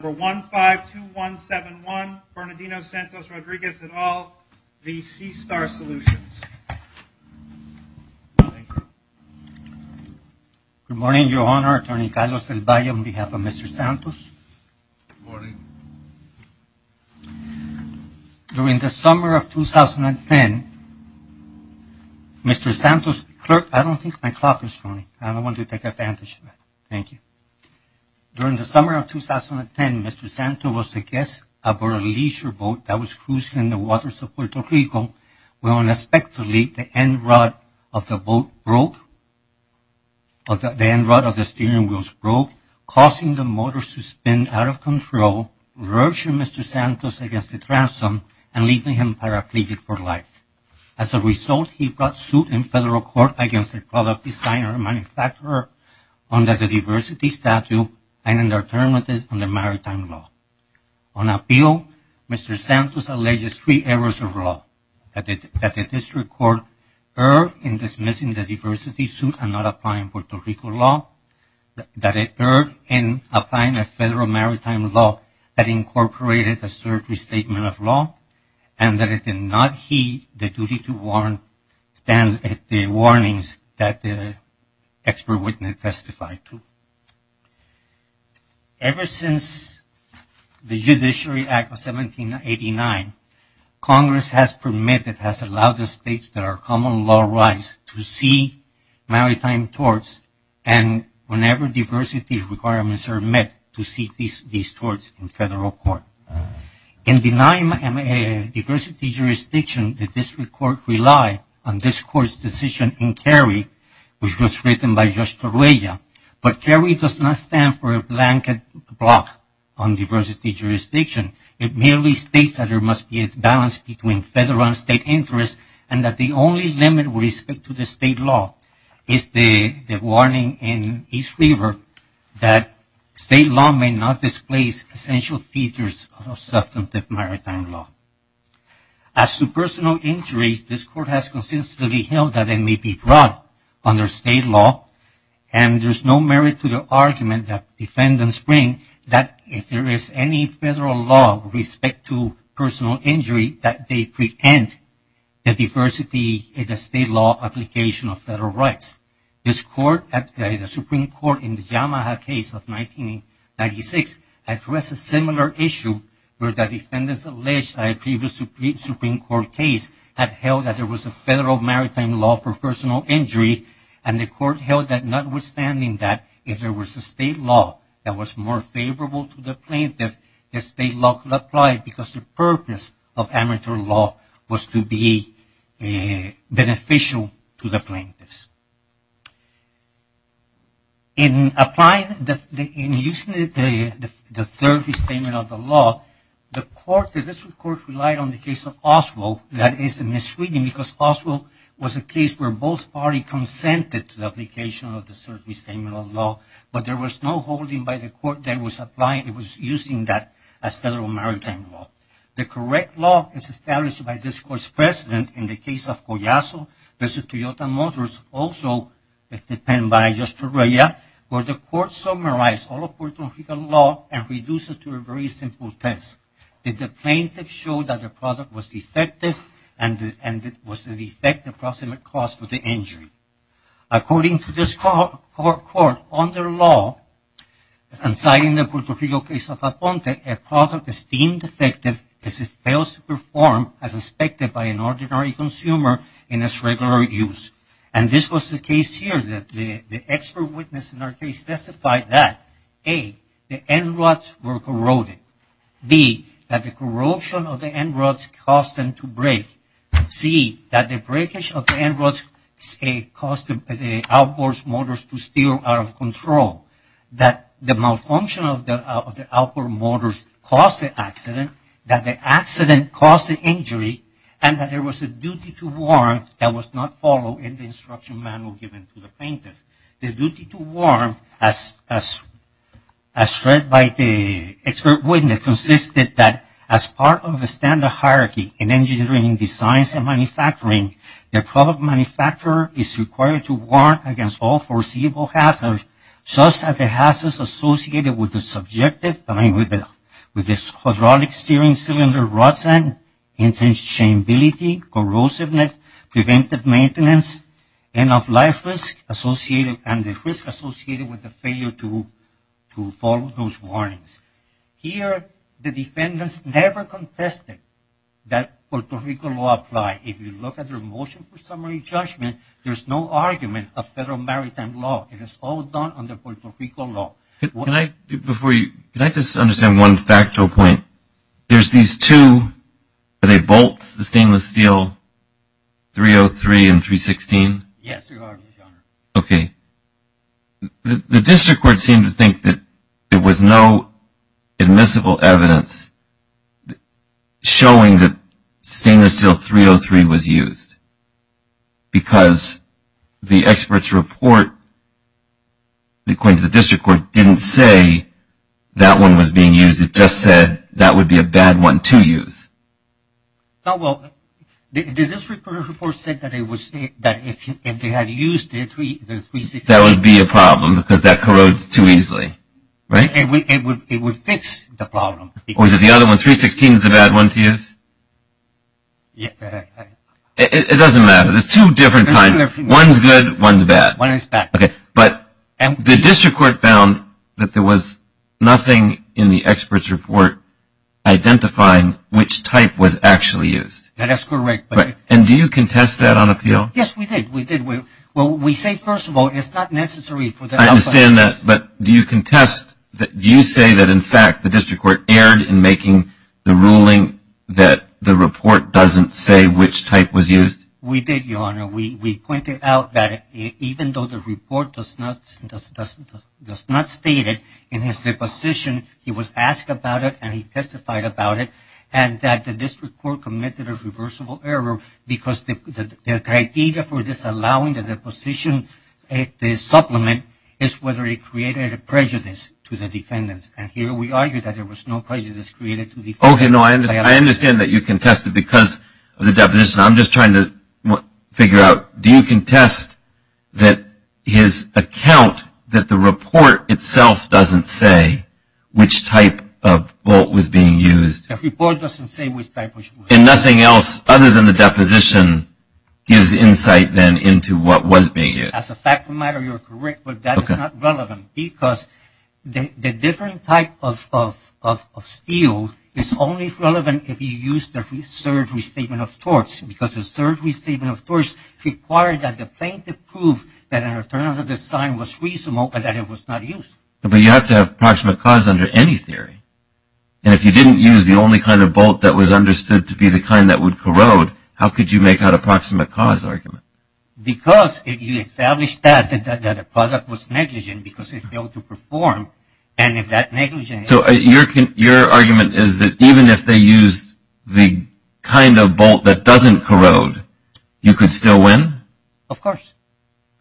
Number 152171, Bernardino Santos-Rodriguez et al, the SeaStar Solutions. Good morning, Your Honor. Attorney Carlos Del Valle on behalf of Mr. Santos. Good morning. During the summer of 2010, Mr. Santos, clerk, I don't think my clock is running. I don't want to take advantage of it. Thank you. During the summer of 2010, Mr. Santos was a guest aboard a leisure boat that was cruising in the waters of Puerto Rico when unexpectedly the end rod of the boat broke, the end rod of the steering wheels broke, causing the motor to spin out of control, lurching Mr. Santos against the transom and leaving him paraplegic for life. As a result, he brought suit in federal court against the product designer and manufacturer under the diversity statute and indeterminated under maritime law. On appeal, Mr. Santos alleges three errors of law, that the district court erred in dismissing the diversity suit and not applying Puerto Rico law, that it erred in applying a federal maritime law that incorporated a surgery statement of law, and that it did not heed the duty to stand at the warnings that the expert witness testified to. Ever since the Judiciary Act of 1789, Congress has permitted, has allowed the states that are common law rights to see maritime torts and whenever diversity requirements are met, to see these torts in federal court. In denying diversity jurisdiction, the district court relied on this court's decision in Cary, which was written by Judge Torruella. But Cary does not stand for a blanket block on diversity jurisdiction. It merely states that there must be a balance between federal and state interests and that the only limit with respect to the state law is the warning in East River that state law may not displace essential features of substantive maritime law. As to personal injuries, this court has consistently held that they may be brought under state law and there's no merit to the argument that defendants bring that if there is any federal law with respect to personal injury that they preempt the diversity in the state law application of federal rights. This court, the Supreme Court in the Yamaha case of 1996, addressed a similar issue where the defendants alleged that a previous Supreme Court case had held that there was a federal maritime law for personal injury and the court held that notwithstanding that if there was a state law that was more favorable to the plaintiff, the state law could apply because the purpose of amateur law was to be beneficial to the plaintiffs. In applying, in using the third restatement of the law, the court, the district court relied on the case of Oswald. That is a misreading because Oswald was a case where both parties consented to the application of the third restatement of the law, but there was no holding by the court that was applying, it was using that as federal maritime law. The correct law is established by this court's precedent in the case of Collazo v. Toyota Motors, also defended by Justorilla, where the court summarized all of Puerto Rican law and reduced it to a very simple test. Did the plaintiff show that the product was defective and was the defect the proximate cause for the injury? According to this court, under law, and citing the Puerto Rico case of Aponte, a product is deemed defective if it fails to perform as expected by an ordinary consumer in its regular use. And this was the case here that the expert witness in our case testified that, A, the end rods were corroded, B, that the corrosion of the end rods caused them to break, C, that the breakage of the end rods caused the outboard motors to steer out of control, that the malfunction of the outboard motors caused the accident, that the accident caused the injury, and that there was a duty to warrant that was not followed in the instruction manual given to the plaintiff. The duty to warrant, as read by the expert witness, consisted that as part of the standard hierarchy in engineering, designs, and manufacturing, the product manufacturer is required to warrant against all foreseeable hazards such as the hazards associated with the subjective time with the hydraulic steering cylinder rods and interchangeability, corrosiveness, preventive maintenance, and of life risk associated with the failure to follow those warnings. Here, the defendants never contested that Puerto Rico law apply. If you look at their motion for summary judgment, there's no argument of federal maritime law. It is all done under Puerto Rico law. Before you, can I just understand one factual point? There's these two, are they bolts, the stainless steel 303 and 316? Yes, Your Honor. Okay. The district court seemed to think that there was no admissible evidence showing that stainless steel 303 was used, because the expert's report, according to the district court, didn't say that one was being used. It just said that would be a bad one to use. Well, the district court report said that if they had used the 316. That would be a problem because that corrodes too easily, right? It would fix the problem. Or is it the other one, 316 is the bad one to use? It doesn't matter. There's two different kinds. One's good, one's bad. One is bad. Okay. But the district court found that there was nothing in the expert's report identifying which type was actually used. That is correct. And do you contest that on appeal? Yes, we did. We did. Well, we say, first of all, it's not necessary. I understand that. But do you contest, do you say that, in fact, the district court erred in making the ruling that the report doesn't say which type was used? We did, Your Honor. We pointed out that even though the report does not state it, in his deposition, he was asked about it and he testified about it, and that the district court committed a reversible error because the criteria for disallowing the deposition, the supplement, is whether it created a prejudice to the defendants. And here we argue that there was no prejudice created to defendants. Okay. No, I understand that you contested because of the deposition. I'm just trying to figure out, do you contest that his account that the report itself doesn't say which type of bolt was being used? The report doesn't say which type was used. And nothing else other than the deposition gives insight then into what was being used. As a fact of the matter, you're correct, but that is not relevant because the different type of steel is only relevant if you use the third restatement of torts because the third restatement of torts required that the plaintiff prove that an alternative design was reasonable and that it was not used. But you have to have proximate cause under any theory. And if you didn't use the only kind of bolt that was understood to be the kind that would corrode, how could you make out a proximate cause argument? Because if you established that, that the product was negligent because it failed to perform, and if that negligence... So your argument is that even if they used the kind of bolt that doesn't corrode, you could still win? Of course.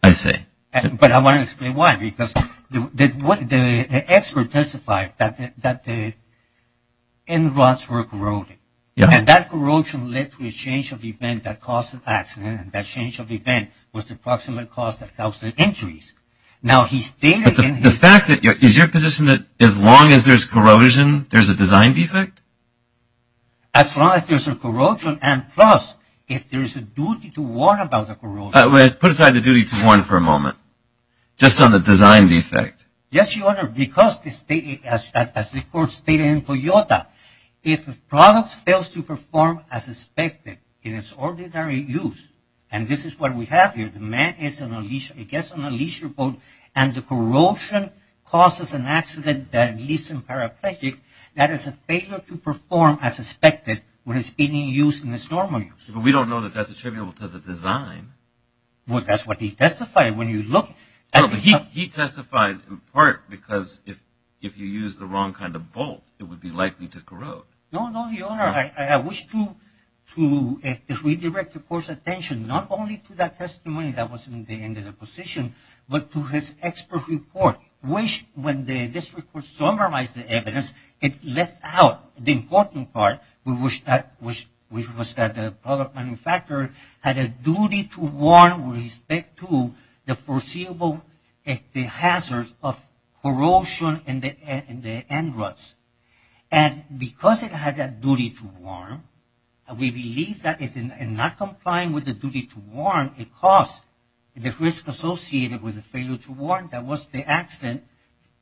I see. But I want to explain why. Because the expert testified that the end rods were corroding. And that corrosion led to a change of event that caused the accident, and that change of event was the proximate cause that caused the injuries. Now, he stated in his... But the fact that... Is your position that as long as there's corrosion, there's a design defect? As long as there's a corrosion and plus, if there's a duty to warn about the corrosion... Put aside the duty to warn for a moment, just on the design defect. Yes, Your Honor, because as the court stated in Toyota, if a product fails to perform as expected in its ordinary use, and this is what we have here, the man gets on a leisure boat and the corrosion causes an accident that leads to paraplegic, that is a failure to perform as expected when it's being used in its normal use. But we don't know that that's attributable to the design. Well, that's what he testified. When you look... No, but he testified in part because if you use the wrong kind of bolt, it would be likely to corrode. No, no, Your Honor. I wish to redirect the court's attention not only to that testimony that was in the end of the position, but to his expert report, which when this report summarized the evidence, it left out the important part, which was that the product manufacturer had a duty to warn with respect to the foreseeable hazards of corrosion in the end ruts. And because it had that duty to warn, we believe that in not complying with the duty to warn, it caused the risk associated with the failure to warn that was the accident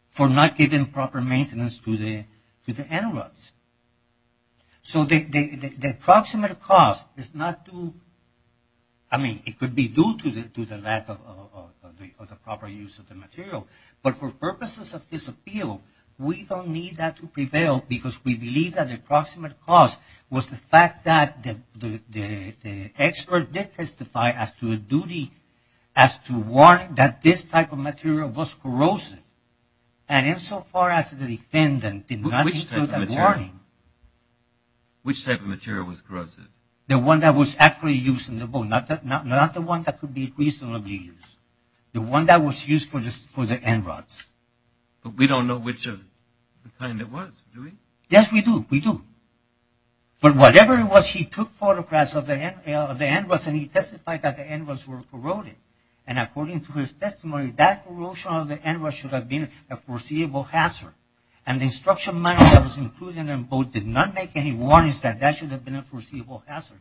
for not giving proper maintenance to the end ruts. So the approximate cost is not due... I mean, it could be due to the lack of the proper use of the material. But for purposes of this appeal, we don't need that to prevail because we believe that the approximate cost was the fact that the expert did testify as to a duty, as to warning that this type of material was corrosive. And insofar as the defendant did not include that warning... Which type of material? Which type of material was corrosive? The one that was actually used in the boat, not the one that could be reasonably used. The one that was used for the end ruts. But we don't know which of the kind it was, do we? Yes, we do. We do. But whatever it was, he took photographs of the end ruts and he testified that the end ruts were corroded. And according to his testimony, that corrosion of the end ruts should have been a foreseeable hazard. And the instruction manual that was included in the boat did not make any warnings that that should have been a foreseeable hazard.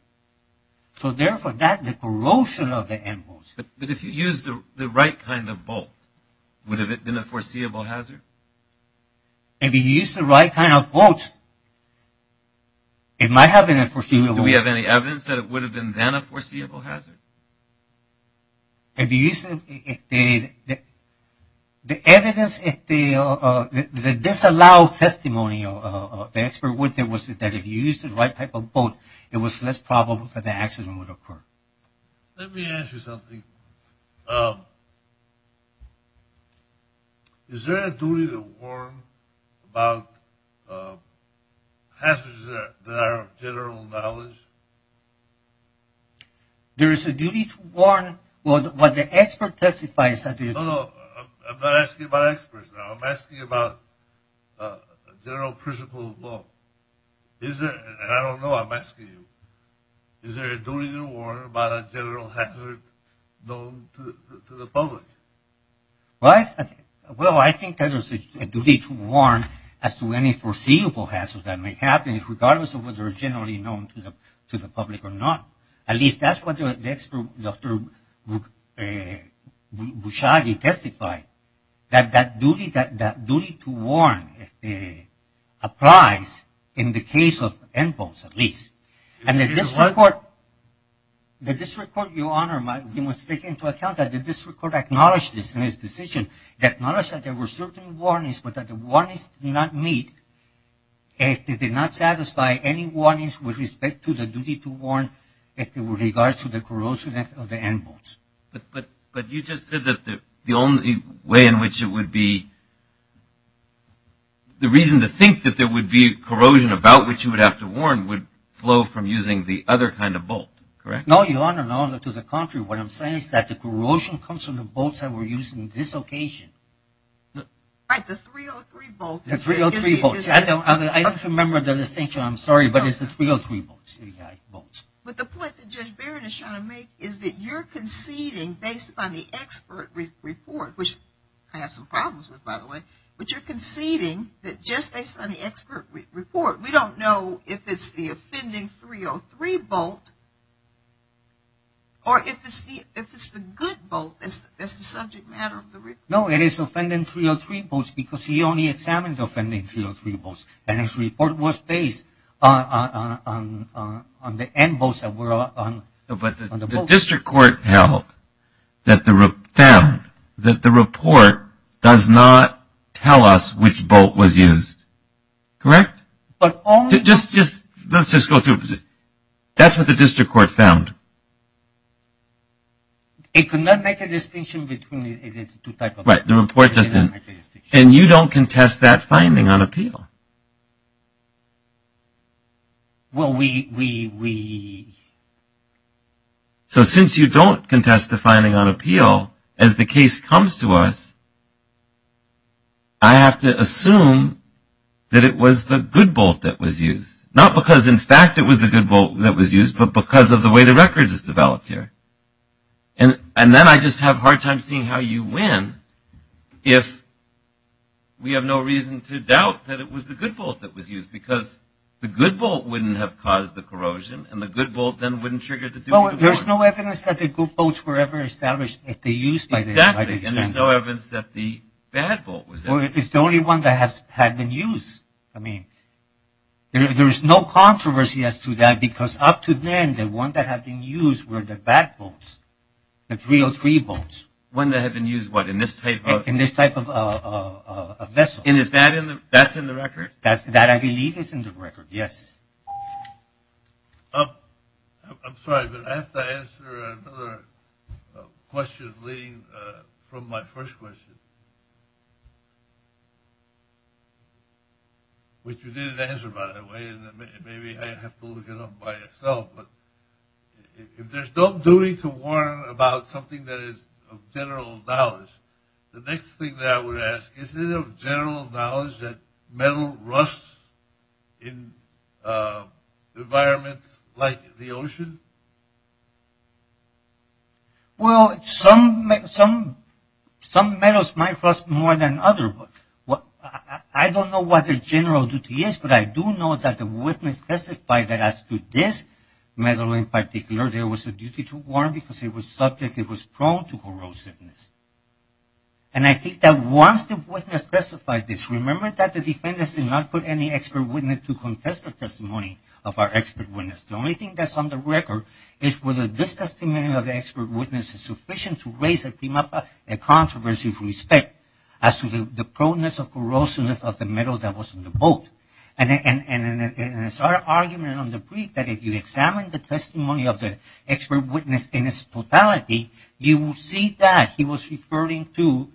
So therefore, that corrosion of the end ruts... But if you used the right kind of boat, would it have been a foreseeable hazard? If you used the right kind of boat, it might have been a foreseeable hazard. Do we have any evidence that it would have been then a foreseeable hazard? If you used... The evidence... The disallowed testimony of the expert was that if you used the right type of boat, it was less probable that the accident would occur. Let me ask you something. Is there a duty to warn about hazards that are of general knowledge? There is a duty to warn what the expert testifies... No, no. I'm not asking about experts. I'm asking about general principle of law. And I don't know. I'm asking you. Is there a duty to warn about a general hazard known to the public? Well, I think there is a duty to warn as to any foreseeable hazard that may happen regardless of whether it's generally known to the public or not. At least that's what the expert, Dr. Bouchagi, testified, that that duty to warn applies in the case of end boats at least. And the district court... The district court, Your Honor, must take into account that the district court acknowledged this in its decision. It acknowledged that there were certain warnings, but that the warnings did not meet. It did not satisfy any warnings with respect to the duty to warn with regards to the corrosion of the end boats. But you just said that the only way in which it would be... The reason to think that there would be corrosion about which you would have to warn would flow from using the other kind of boat, correct? No, Your Honor. No, to the contrary. What I'm saying is that the corrosion comes from the boats that were used in this occasion. Right, the 303 boats. The 303 boats. I don't remember the distinction. I'm sorry, but it's the 303 boats. But the point that Judge Barron is trying to make is that you're conceding based upon the expert report, which I have some problems with, by the way, but you're conceding that just based on the expert report, we don't know if it's the offending 303 boat or if it's the good boat that's the subject matter of the report. No, it is offending 303 boats because he only examined offending 303 boats, and his report was based on the end boats that were on the boat. The district court found that the report does not tell us which boat was used, correct? Let's just go through it. That's what the district court found. It could not make a distinction between the two types of boats. Right, the report just didn't. And you don't contest that finding on appeal. No. Well, we... So since you don't contest the finding on appeal, as the case comes to us, I have to assume that it was the good boat that was used. Not because, in fact, it was the good boat that was used, but because of the way the record is developed here. And then I just have a hard time seeing how you win if we have no reason to doubt that it was the good boat that was used because the good boat wouldn't have caused the corrosion, and the good boat then wouldn't trigger the... Well, there's no evidence that the good boats were ever established if they used... Exactly, and there's no evidence that the bad boat was... Well, it's the only one that had been used. I mean, there's no controversy as to that because up to then, the one that had been used were the bad boats, the 303 boats. One that had been used, what, in this type of... In this type of vessel. And is that in the record? That, I believe, is in the record, yes. I'm sorry, but I have to answer another question leading from my first question, which you didn't answer, by the way, and maybe I have to look it up by yourself. But if there's no duty to warn about something that is of general knowledge, the next thing that I would ask, is it of general knowledge that metal rusts in environments like the ocean? Well, some metals might rust more than others. I don't know what the general duty is, but I do know that the witness testified that as to this metal in particular, there was a duty to warn because it was subject, it was prone to corrosiveness. And I think that once the witness testified this, remember that the defendants did not put any expert witness to contest the testimony of our expert witness. The only thing that's on the record is whether this testimony of the expert witness is sufficient to raise a controversy of respect as to the proneness of corrosiveness of the metal that was in the boat. And it's our argument on the brief that if you examine the testimony of the expert witness in its totality, you will see that he was referring to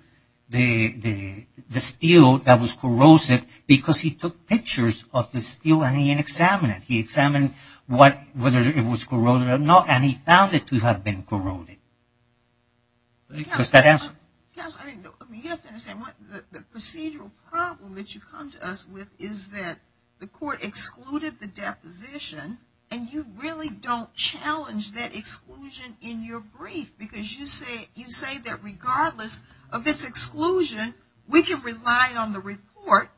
the steel that was corrosive because he took pictures of the steel and he examined it. He examined whether it was corroded or not, and he found it to have been corroded. Does that answer? The procedural problem that you come to us with is that the court excluded the deposition and you really don't challenge that exclusion in your brief because you say that regardless of its exclusion, we can rely on the report.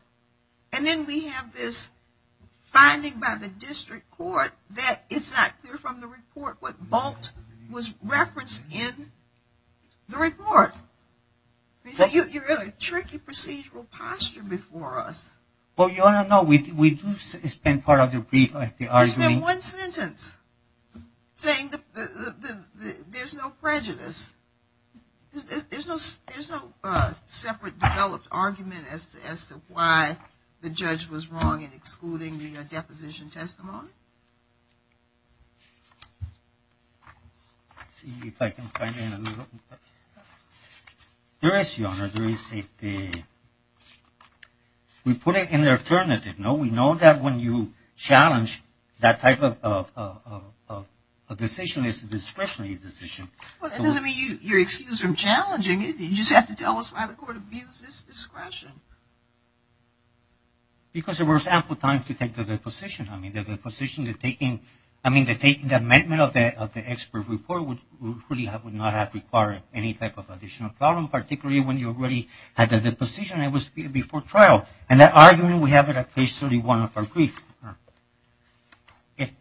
And then we have this finding by the district court that it's not clear from the report what boat was referenced in the report. You're in a tricky procedural posture before us. Well, Your Honor, no. We do spend part of the brief on the argument. You spend one sentence saying there's no prejudice. There's no separate developed argument as to why the judge was wrong in excluding the deposition testimony. Let's see if I can find it. There is, Your Honor, there is. We put it in the alternative, no? We know that when you challenge that type of decision, it's a discretionary decision. Well, that doesn't mean you're excused from challenging it. You just have to tell us why the court views this discretion. Because there was ample time to take the deposition. I mean, the deposition, the taking, I mean, the amendment of the expert report would not have required any type of additional problem, particularly when you already had the deposition and it was before trial. And that argument, we have it at page 31 of our brief. If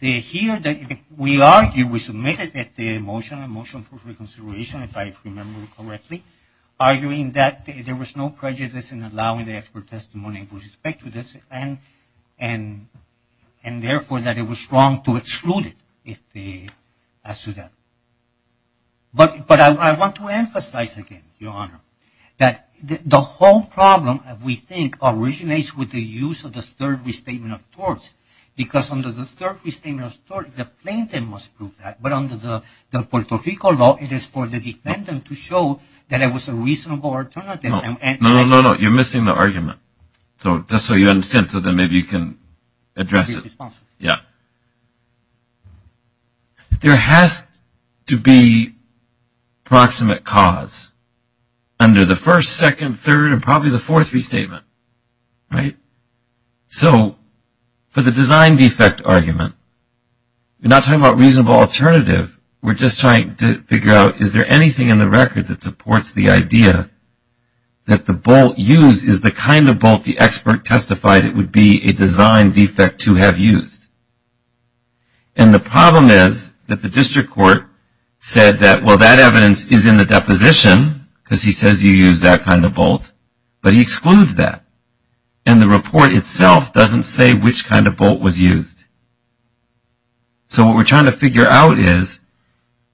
we argue, we submit it at the motion for reconsideration, if I remember correctly, arguing that there was no prejudice in allowing the expert testimony with respect to this and, therefore, that it was wrong to exclude it. But I want to emphasize again, Your Honor, that the whole problem, we think, originates with the use of the third restatement of torts. Because under the third restatement of torts, the plaintiff must prove that. But under the Puerto Rico law, it is for the defendant to show that it was a reasonable alternative. No, no, no. You're missing the argument. So just so you understand, so then maybe you can address it. I'll be responsible. Yeah. There has to be proximate cause under the first, second, third, and probably the fourth restatement. Right? So for the design defect argument, we're not talking about reasonable alternative. We're just trying to figure out, is there anything in the record that supports the idea that the bolt used is the kind of bolt the expert testified it would be a design defect to have used? And the problem is that the district court said that, well, that evidence is in the deposition because he says you used that kind of bolt, but he excludes that. And the report itself doesn't say which kind of bolt was used. So what we're trying to figure out is,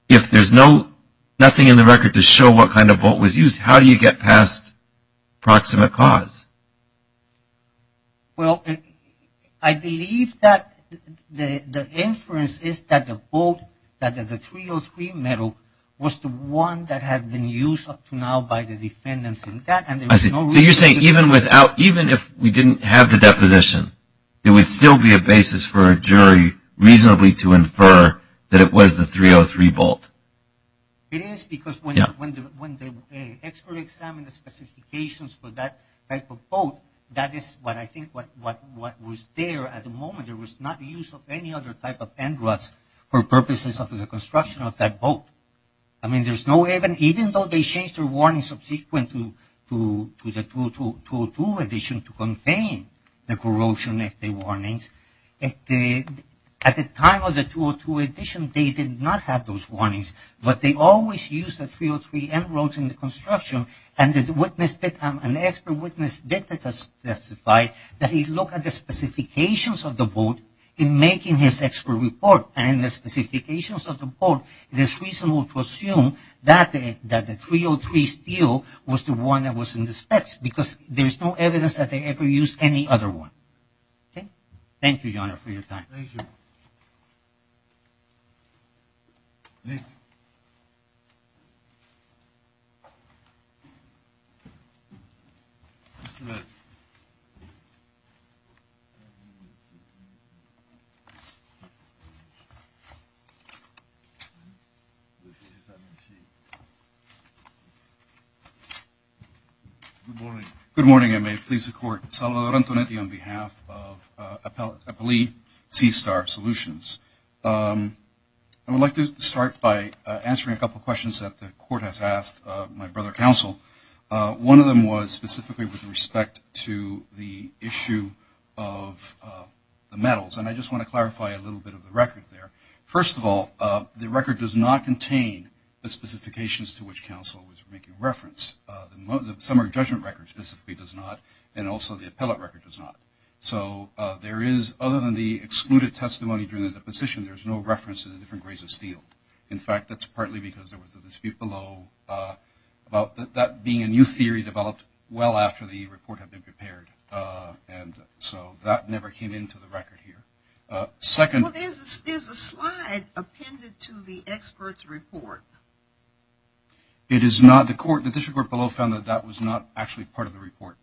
if there's nothing in the record to show what kind of bolt was used, how do you get past proximate cause? Well, I believe that the inference is that the bolt, that the 303 metal, was the one that had been used up to now by the defendants in that. I see. So you're saying even if we didn't have the deposition, it would still be a basis for a jury reasonably to infer that it was the 303 bolt. It is because when the expert examined the specifications for that type of bolt, that is what I think was there at the moment. There was not use of any other type of end ruts for purposes of the construction of that bolt. I mean, even though they changed their warning subsequent to the 202 addition to contain the corrosion warnings, at the time of the 202 addition, they did not have those warnings. But they always used the 303 end ruts in the construction, and an expert witness did testify that he looked at the specifications of the bolt in making his expert report. And in the specifications of the bolt, it is reasonable to assume that the 303 steel was the one that was in the specs, because there is no evidence that they ever used any other one. Thank you, Your Honor, for your time. Thank you. Good morning. Good morning. I may please the Court. Salvador Antonetti on behalf of Appellee Seastar Solutions. I would like to start by answering a couple of questions that the Court has asked my brother counsel. One of them was specifically with respect to the issue of the metals, and I just want to clarify a little bit of the record there. First of all, the record does not contain the specifications to which counsel was making reference. The summary judgment record specifically does not, and also the appellate record does not. So there is, other than the excluded testimony during the deposition, there is no reference to the different grades of steel. In fact, that's partly because there was a dispute below about that being a new theory developed well after the report had been prepared. And so that never came into the record here. Second. Well, there's a slide appended to the expert's report. It is not. The District Court below found that that was not actually part of the report.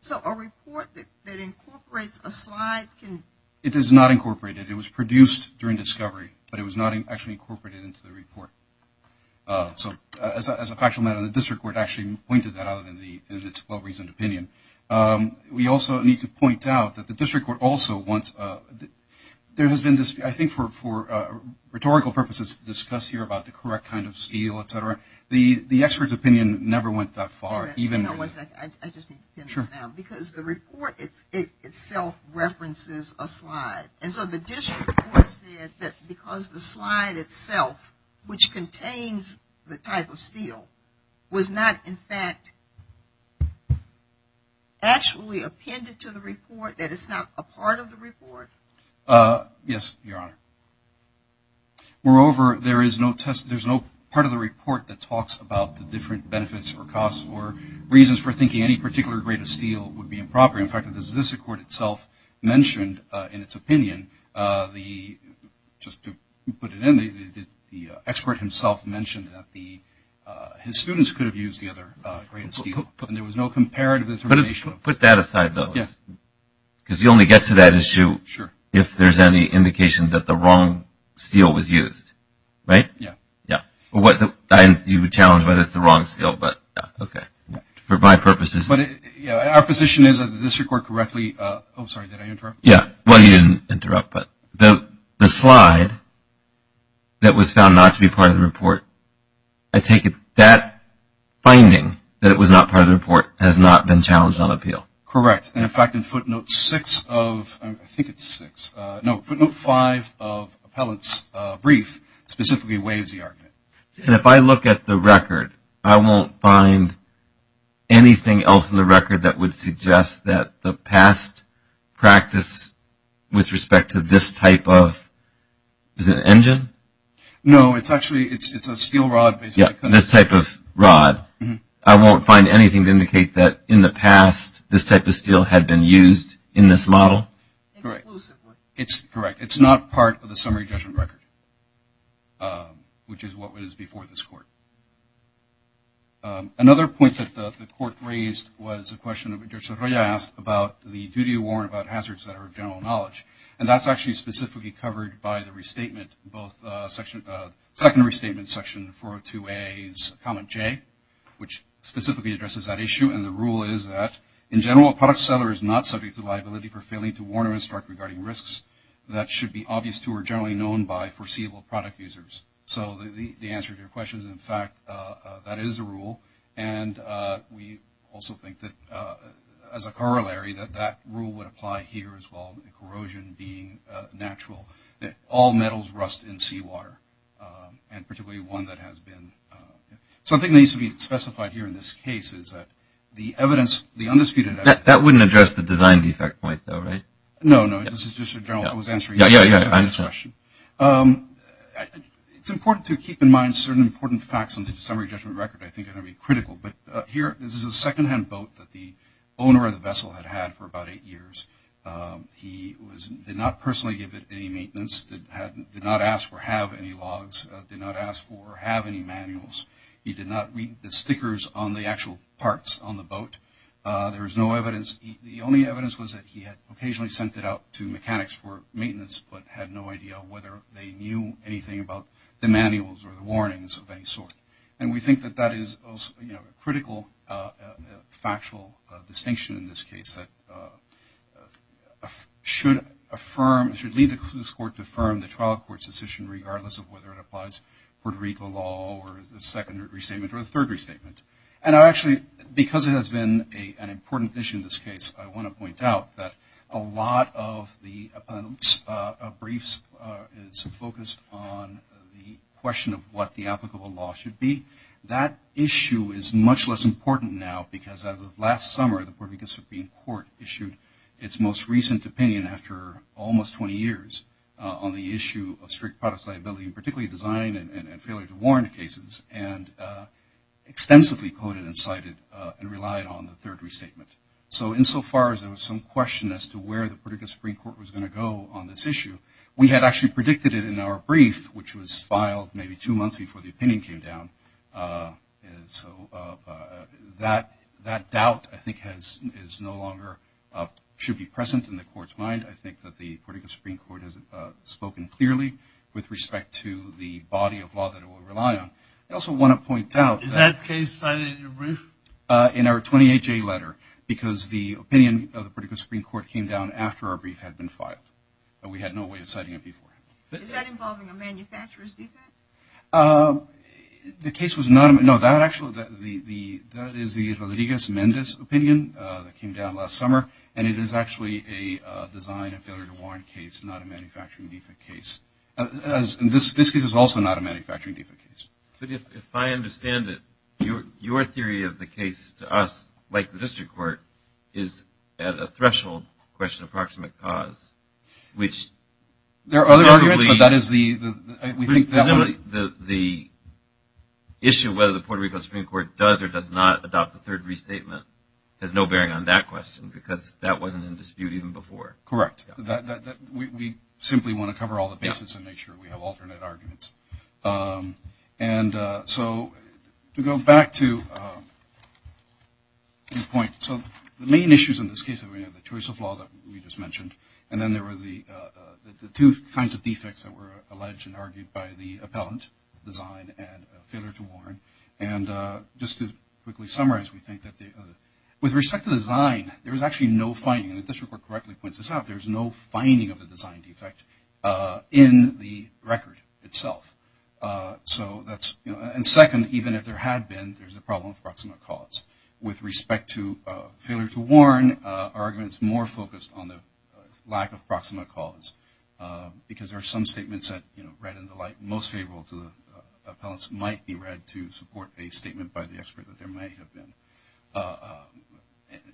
So a report that incorporates a slide can. It is not incorporated. It was produced during discovery, but it was not actually incorporated into the report. So as a factual matter, the District Court actually pointed that out in its well-reasoned opinion. We also need to point out that the District Court also wants, there has been, I think, for rhetorical purposes discussed here about the correct kind of steel, et cetera. The expert's opinion never went that far. I just need to pin this down. Because the report itself references a slide. And so the District Court said that because the slide itself, which contains the type of steel, was not, in fact, actually appended to the report, that it's not a part of the report. Yes, Your Honor. Moreover, there is no part of the report that talks about the different benefits or costs or reasons for thinking any particular grade of steel would be improper. In fact, the Statistical Court itself mentioned in its opinion, just to put it in, the expert himself mentioned that his students could have used the other grade of steel. And there was no comparative determination. Put that aside, though. Yes. Because you only get to that issue if there's any indication that the wrong steel was used. Right? Yes. Yes. You would challenge whether it's the wrong steel, but okay. For my purposes. But our position is that the District Court correctly, oh, sorry, did I interrupt? Yes. Well, you didn't interrupt, but the slide that was found not to be part of the report, I take it that finding that it was not part of the report has not been challenged on appeal. Correct. And, in fact, in footnote six of, I think it's six, no, footnote five of Appellant's brief specifically waives the argument. And if I look at the record, I won't find anything else in the record that would suggest that the past practice with respect to this type of, is it an engine? No, it's actually, it's a steel rod. Yeah, this type of rod. I won't find anything to indicate that in the past this type of steel had been used in this model. Exclusively. It's correct. It's not part of the summary judgment record, which is what was before this court. Another point that the court raised was a question that Judge Sorolla asked about the duty to warn about hazards that are of general knowledge. And that's actually specifically covered by the restatement, both section, second restatement section 402A's comment J, which specifically addresses that issue. And the rule is that, in general, a product seller is not subject to liability for failing to warn or instruct regarding risks that should be obvious to or generally known by foreseeable product users. So the answer to your question is, in fact, that is a rule. And we also think that, as a corollary, that that rule would apply here as well, the corrosion being natural, that all metals rust in seawater, and particularly one that has been. So the thing that needs to be specified here in this case is that the evidence, the undisputed evidence. That wouldn't address the design defect point, though, right? No, no. This is just a general. I was answering. Yeah, yeah, yeah. I understand. It's important to keep in mind certain important facts on the summary judgment record I think are going to be critical. But here, this is a secondhand boat that the owner of the vessel had had for about eight years. He did not personally give it any maintenance, did not ask for or have any logs, did not ask for or have any manuals. He did not read the stickers on the actual parts on the boat. There was no evidence. The only evidence was that he had occasionally sent it out to mechanics for maintenance but had no idea whether they knew anything about the manuals or the warnings of any sort. And we think that that is a critical factual distinction in this case that should affirm, should lead the court to affirm the trial court's decision, regardless of whether it applies Puerto Rico law or the second restatement or the third restatement. And I actually, because it has been an important issue in this case, I want to point out that a lot of the briefs is focused on the question of what the applicable law should be. That issue is much less important now because as of last summer, the Puerto Rico Supreme Court issued its most recent opinion after almost 20 years on the issue of strict products liability, particularly design and failure to warrant cases, and extensively quoted and cited and relied on the third restatement. So insofar as there was some question as to where the Puerto Rico Supreme Court was going to go on this issue, we had actually predicted it in our brief, which was filed maybe two months before the opinion came down. So that doubt, I think, is no longer, should be present in the court's mind. I think that the Puerto Rico Supreme Court has spoken clearly with respect to the body of law that it will rely on. I also want to point out that- Is that case cited in your brief? In our 28-J letter, because the opinion of the Puerto Rico Supreme Court came down after our brief had been filed. We had no way of citing it before. Is that involving a manufacturer's defect? The case was not, no, that actually, that is the Rodriguez-Mendez opinion that came down last summer, and it is actually a design and failure to warrant case, not a manufacturing defect case. This case is also not a manufacturing defect case. But if I understand it, your theory of the case to us, like the district court, is at a threshold question of proximate cause, which- There are other arguments, but that is the- The issue of whether the Puerto Rico Supreme Court does or does not adopt the third restatement has no bearing on that question, because that wasn't in dispute even before. Correct. We simply want to cover all the bases and make sure we have alternate arguments. And so to go back to your point, so the main issues in this case, the choice of law that we just mentioned, and then there were the two kinds of defects that were alleged and argued by the appellant, design and failure to warrant. And just to quickly summarize, we think that with respect to design, there is actually no finding, and the district court correctly points this out, there is no finding of a design defect in the record itself. So that is- And second, even if there had been, there is a problem of proximate cause. With respect to failure to warrant, our argument is more focused on the lack of proximate cause, because there are some statements that, you know, read in the light most favorable to the appellants, might be read to support a statement by the expert that there might have been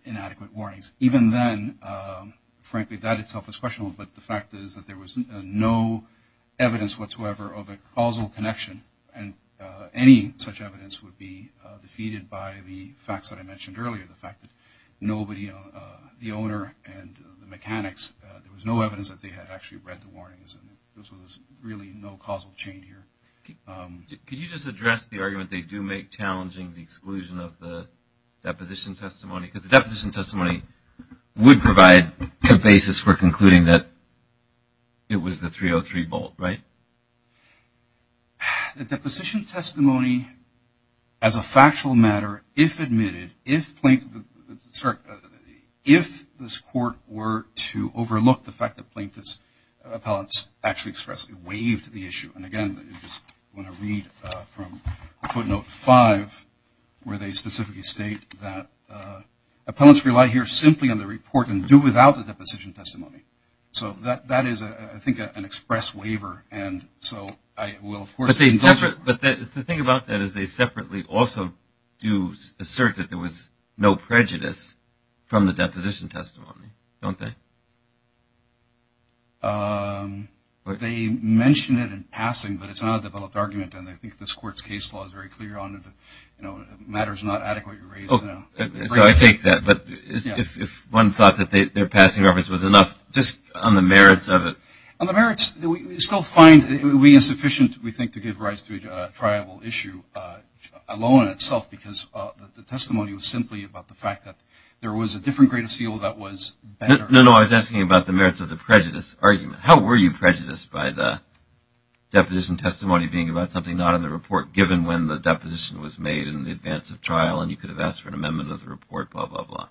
inadequate warnings. Even then, frankly, that itself is questionable, but the fact is that there was no evidence whatsoever of a causal connection, and any such evidence would be defeated by the facts that I mentioned earlier, the fact that nobody, the owner and the mechanics, there was no evidence that they had actually read the warnings, and so there's really no causal chain here. Could you just address the argument they do make challenging the exclusion of the deposition testimony, because the deposition testimony would provide a basis for concluding that it was the 303 bolt, right? The deposition testimony, as a factual matter, if admitted, if plaintiff, sorry, if this court were to overlook the fact that plaintiff's appellants actually expressly waived the issue, and again, I just want to read from footnote five, where they specifically state that appellants rely here simply on the report and do without the deposition testimony. So that is, I think, an express waiver, and so I will, of course, But the thing about that is they separately also do assert that there was no prejudice from the deposition testimony, don't they? They mention it in passing, but it's not a developed argument, and I think this court's case law is very clear on it. Matter is not adequately raised. So I take that, but if one thought that their passing reference was enough, just on the merits of it. On the merits, we still find it would be insufficient, we think, to give rise to a triable issue alone in itself, because the testimony was simply about the fact that there was a different grade of seal that was better. No, no, I was asking about the merits of the prejudice argument. How were you prejudiced by the deposition testimony being about something not in the report, given when the deposition was made in advance of trial, and you could have asked for an amendment of the report, blah, blah, blah?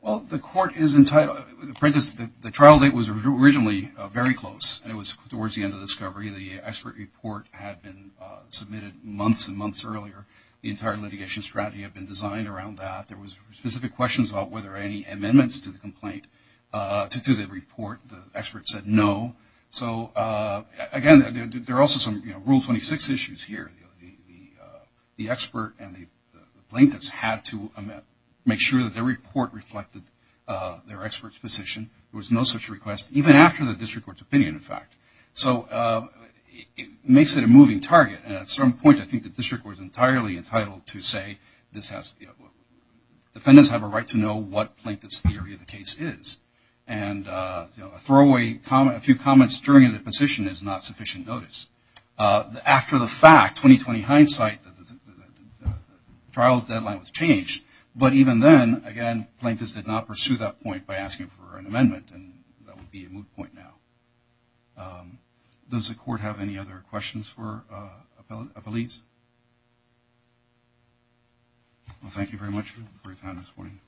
Well, the court is entitled to prejudice. The trial date was originally very close, and it was towards the end of the discovery. The expert report had been submitted months and months earlier. The entire litigation strategy had been designed around that. There were specific questions about whether there were any amendments to the complaint, to the report. The expert said no. So, again, there are also some Rule 26 issues here. The expert and the plaintiffs had to make sure that their report reflected their expert's position. There was no such request, even after the district court's opinion, in fact. So it makes it a moving target. And at some point, I think the district court is entirely entitled to say this has – defendants have a right to know what plaintiff's theory of the case is. And a throwaway – a few comments during a deposition is not sufficient notice. After the fact, 20-20 hindsight, the trial deadline was changed. But even then, again, plaintiffs did not pursue that point by asking for an amendment, and that would be a moot point now. Does the court have any other questions for appellees? Well, thank you very much for your time this morning.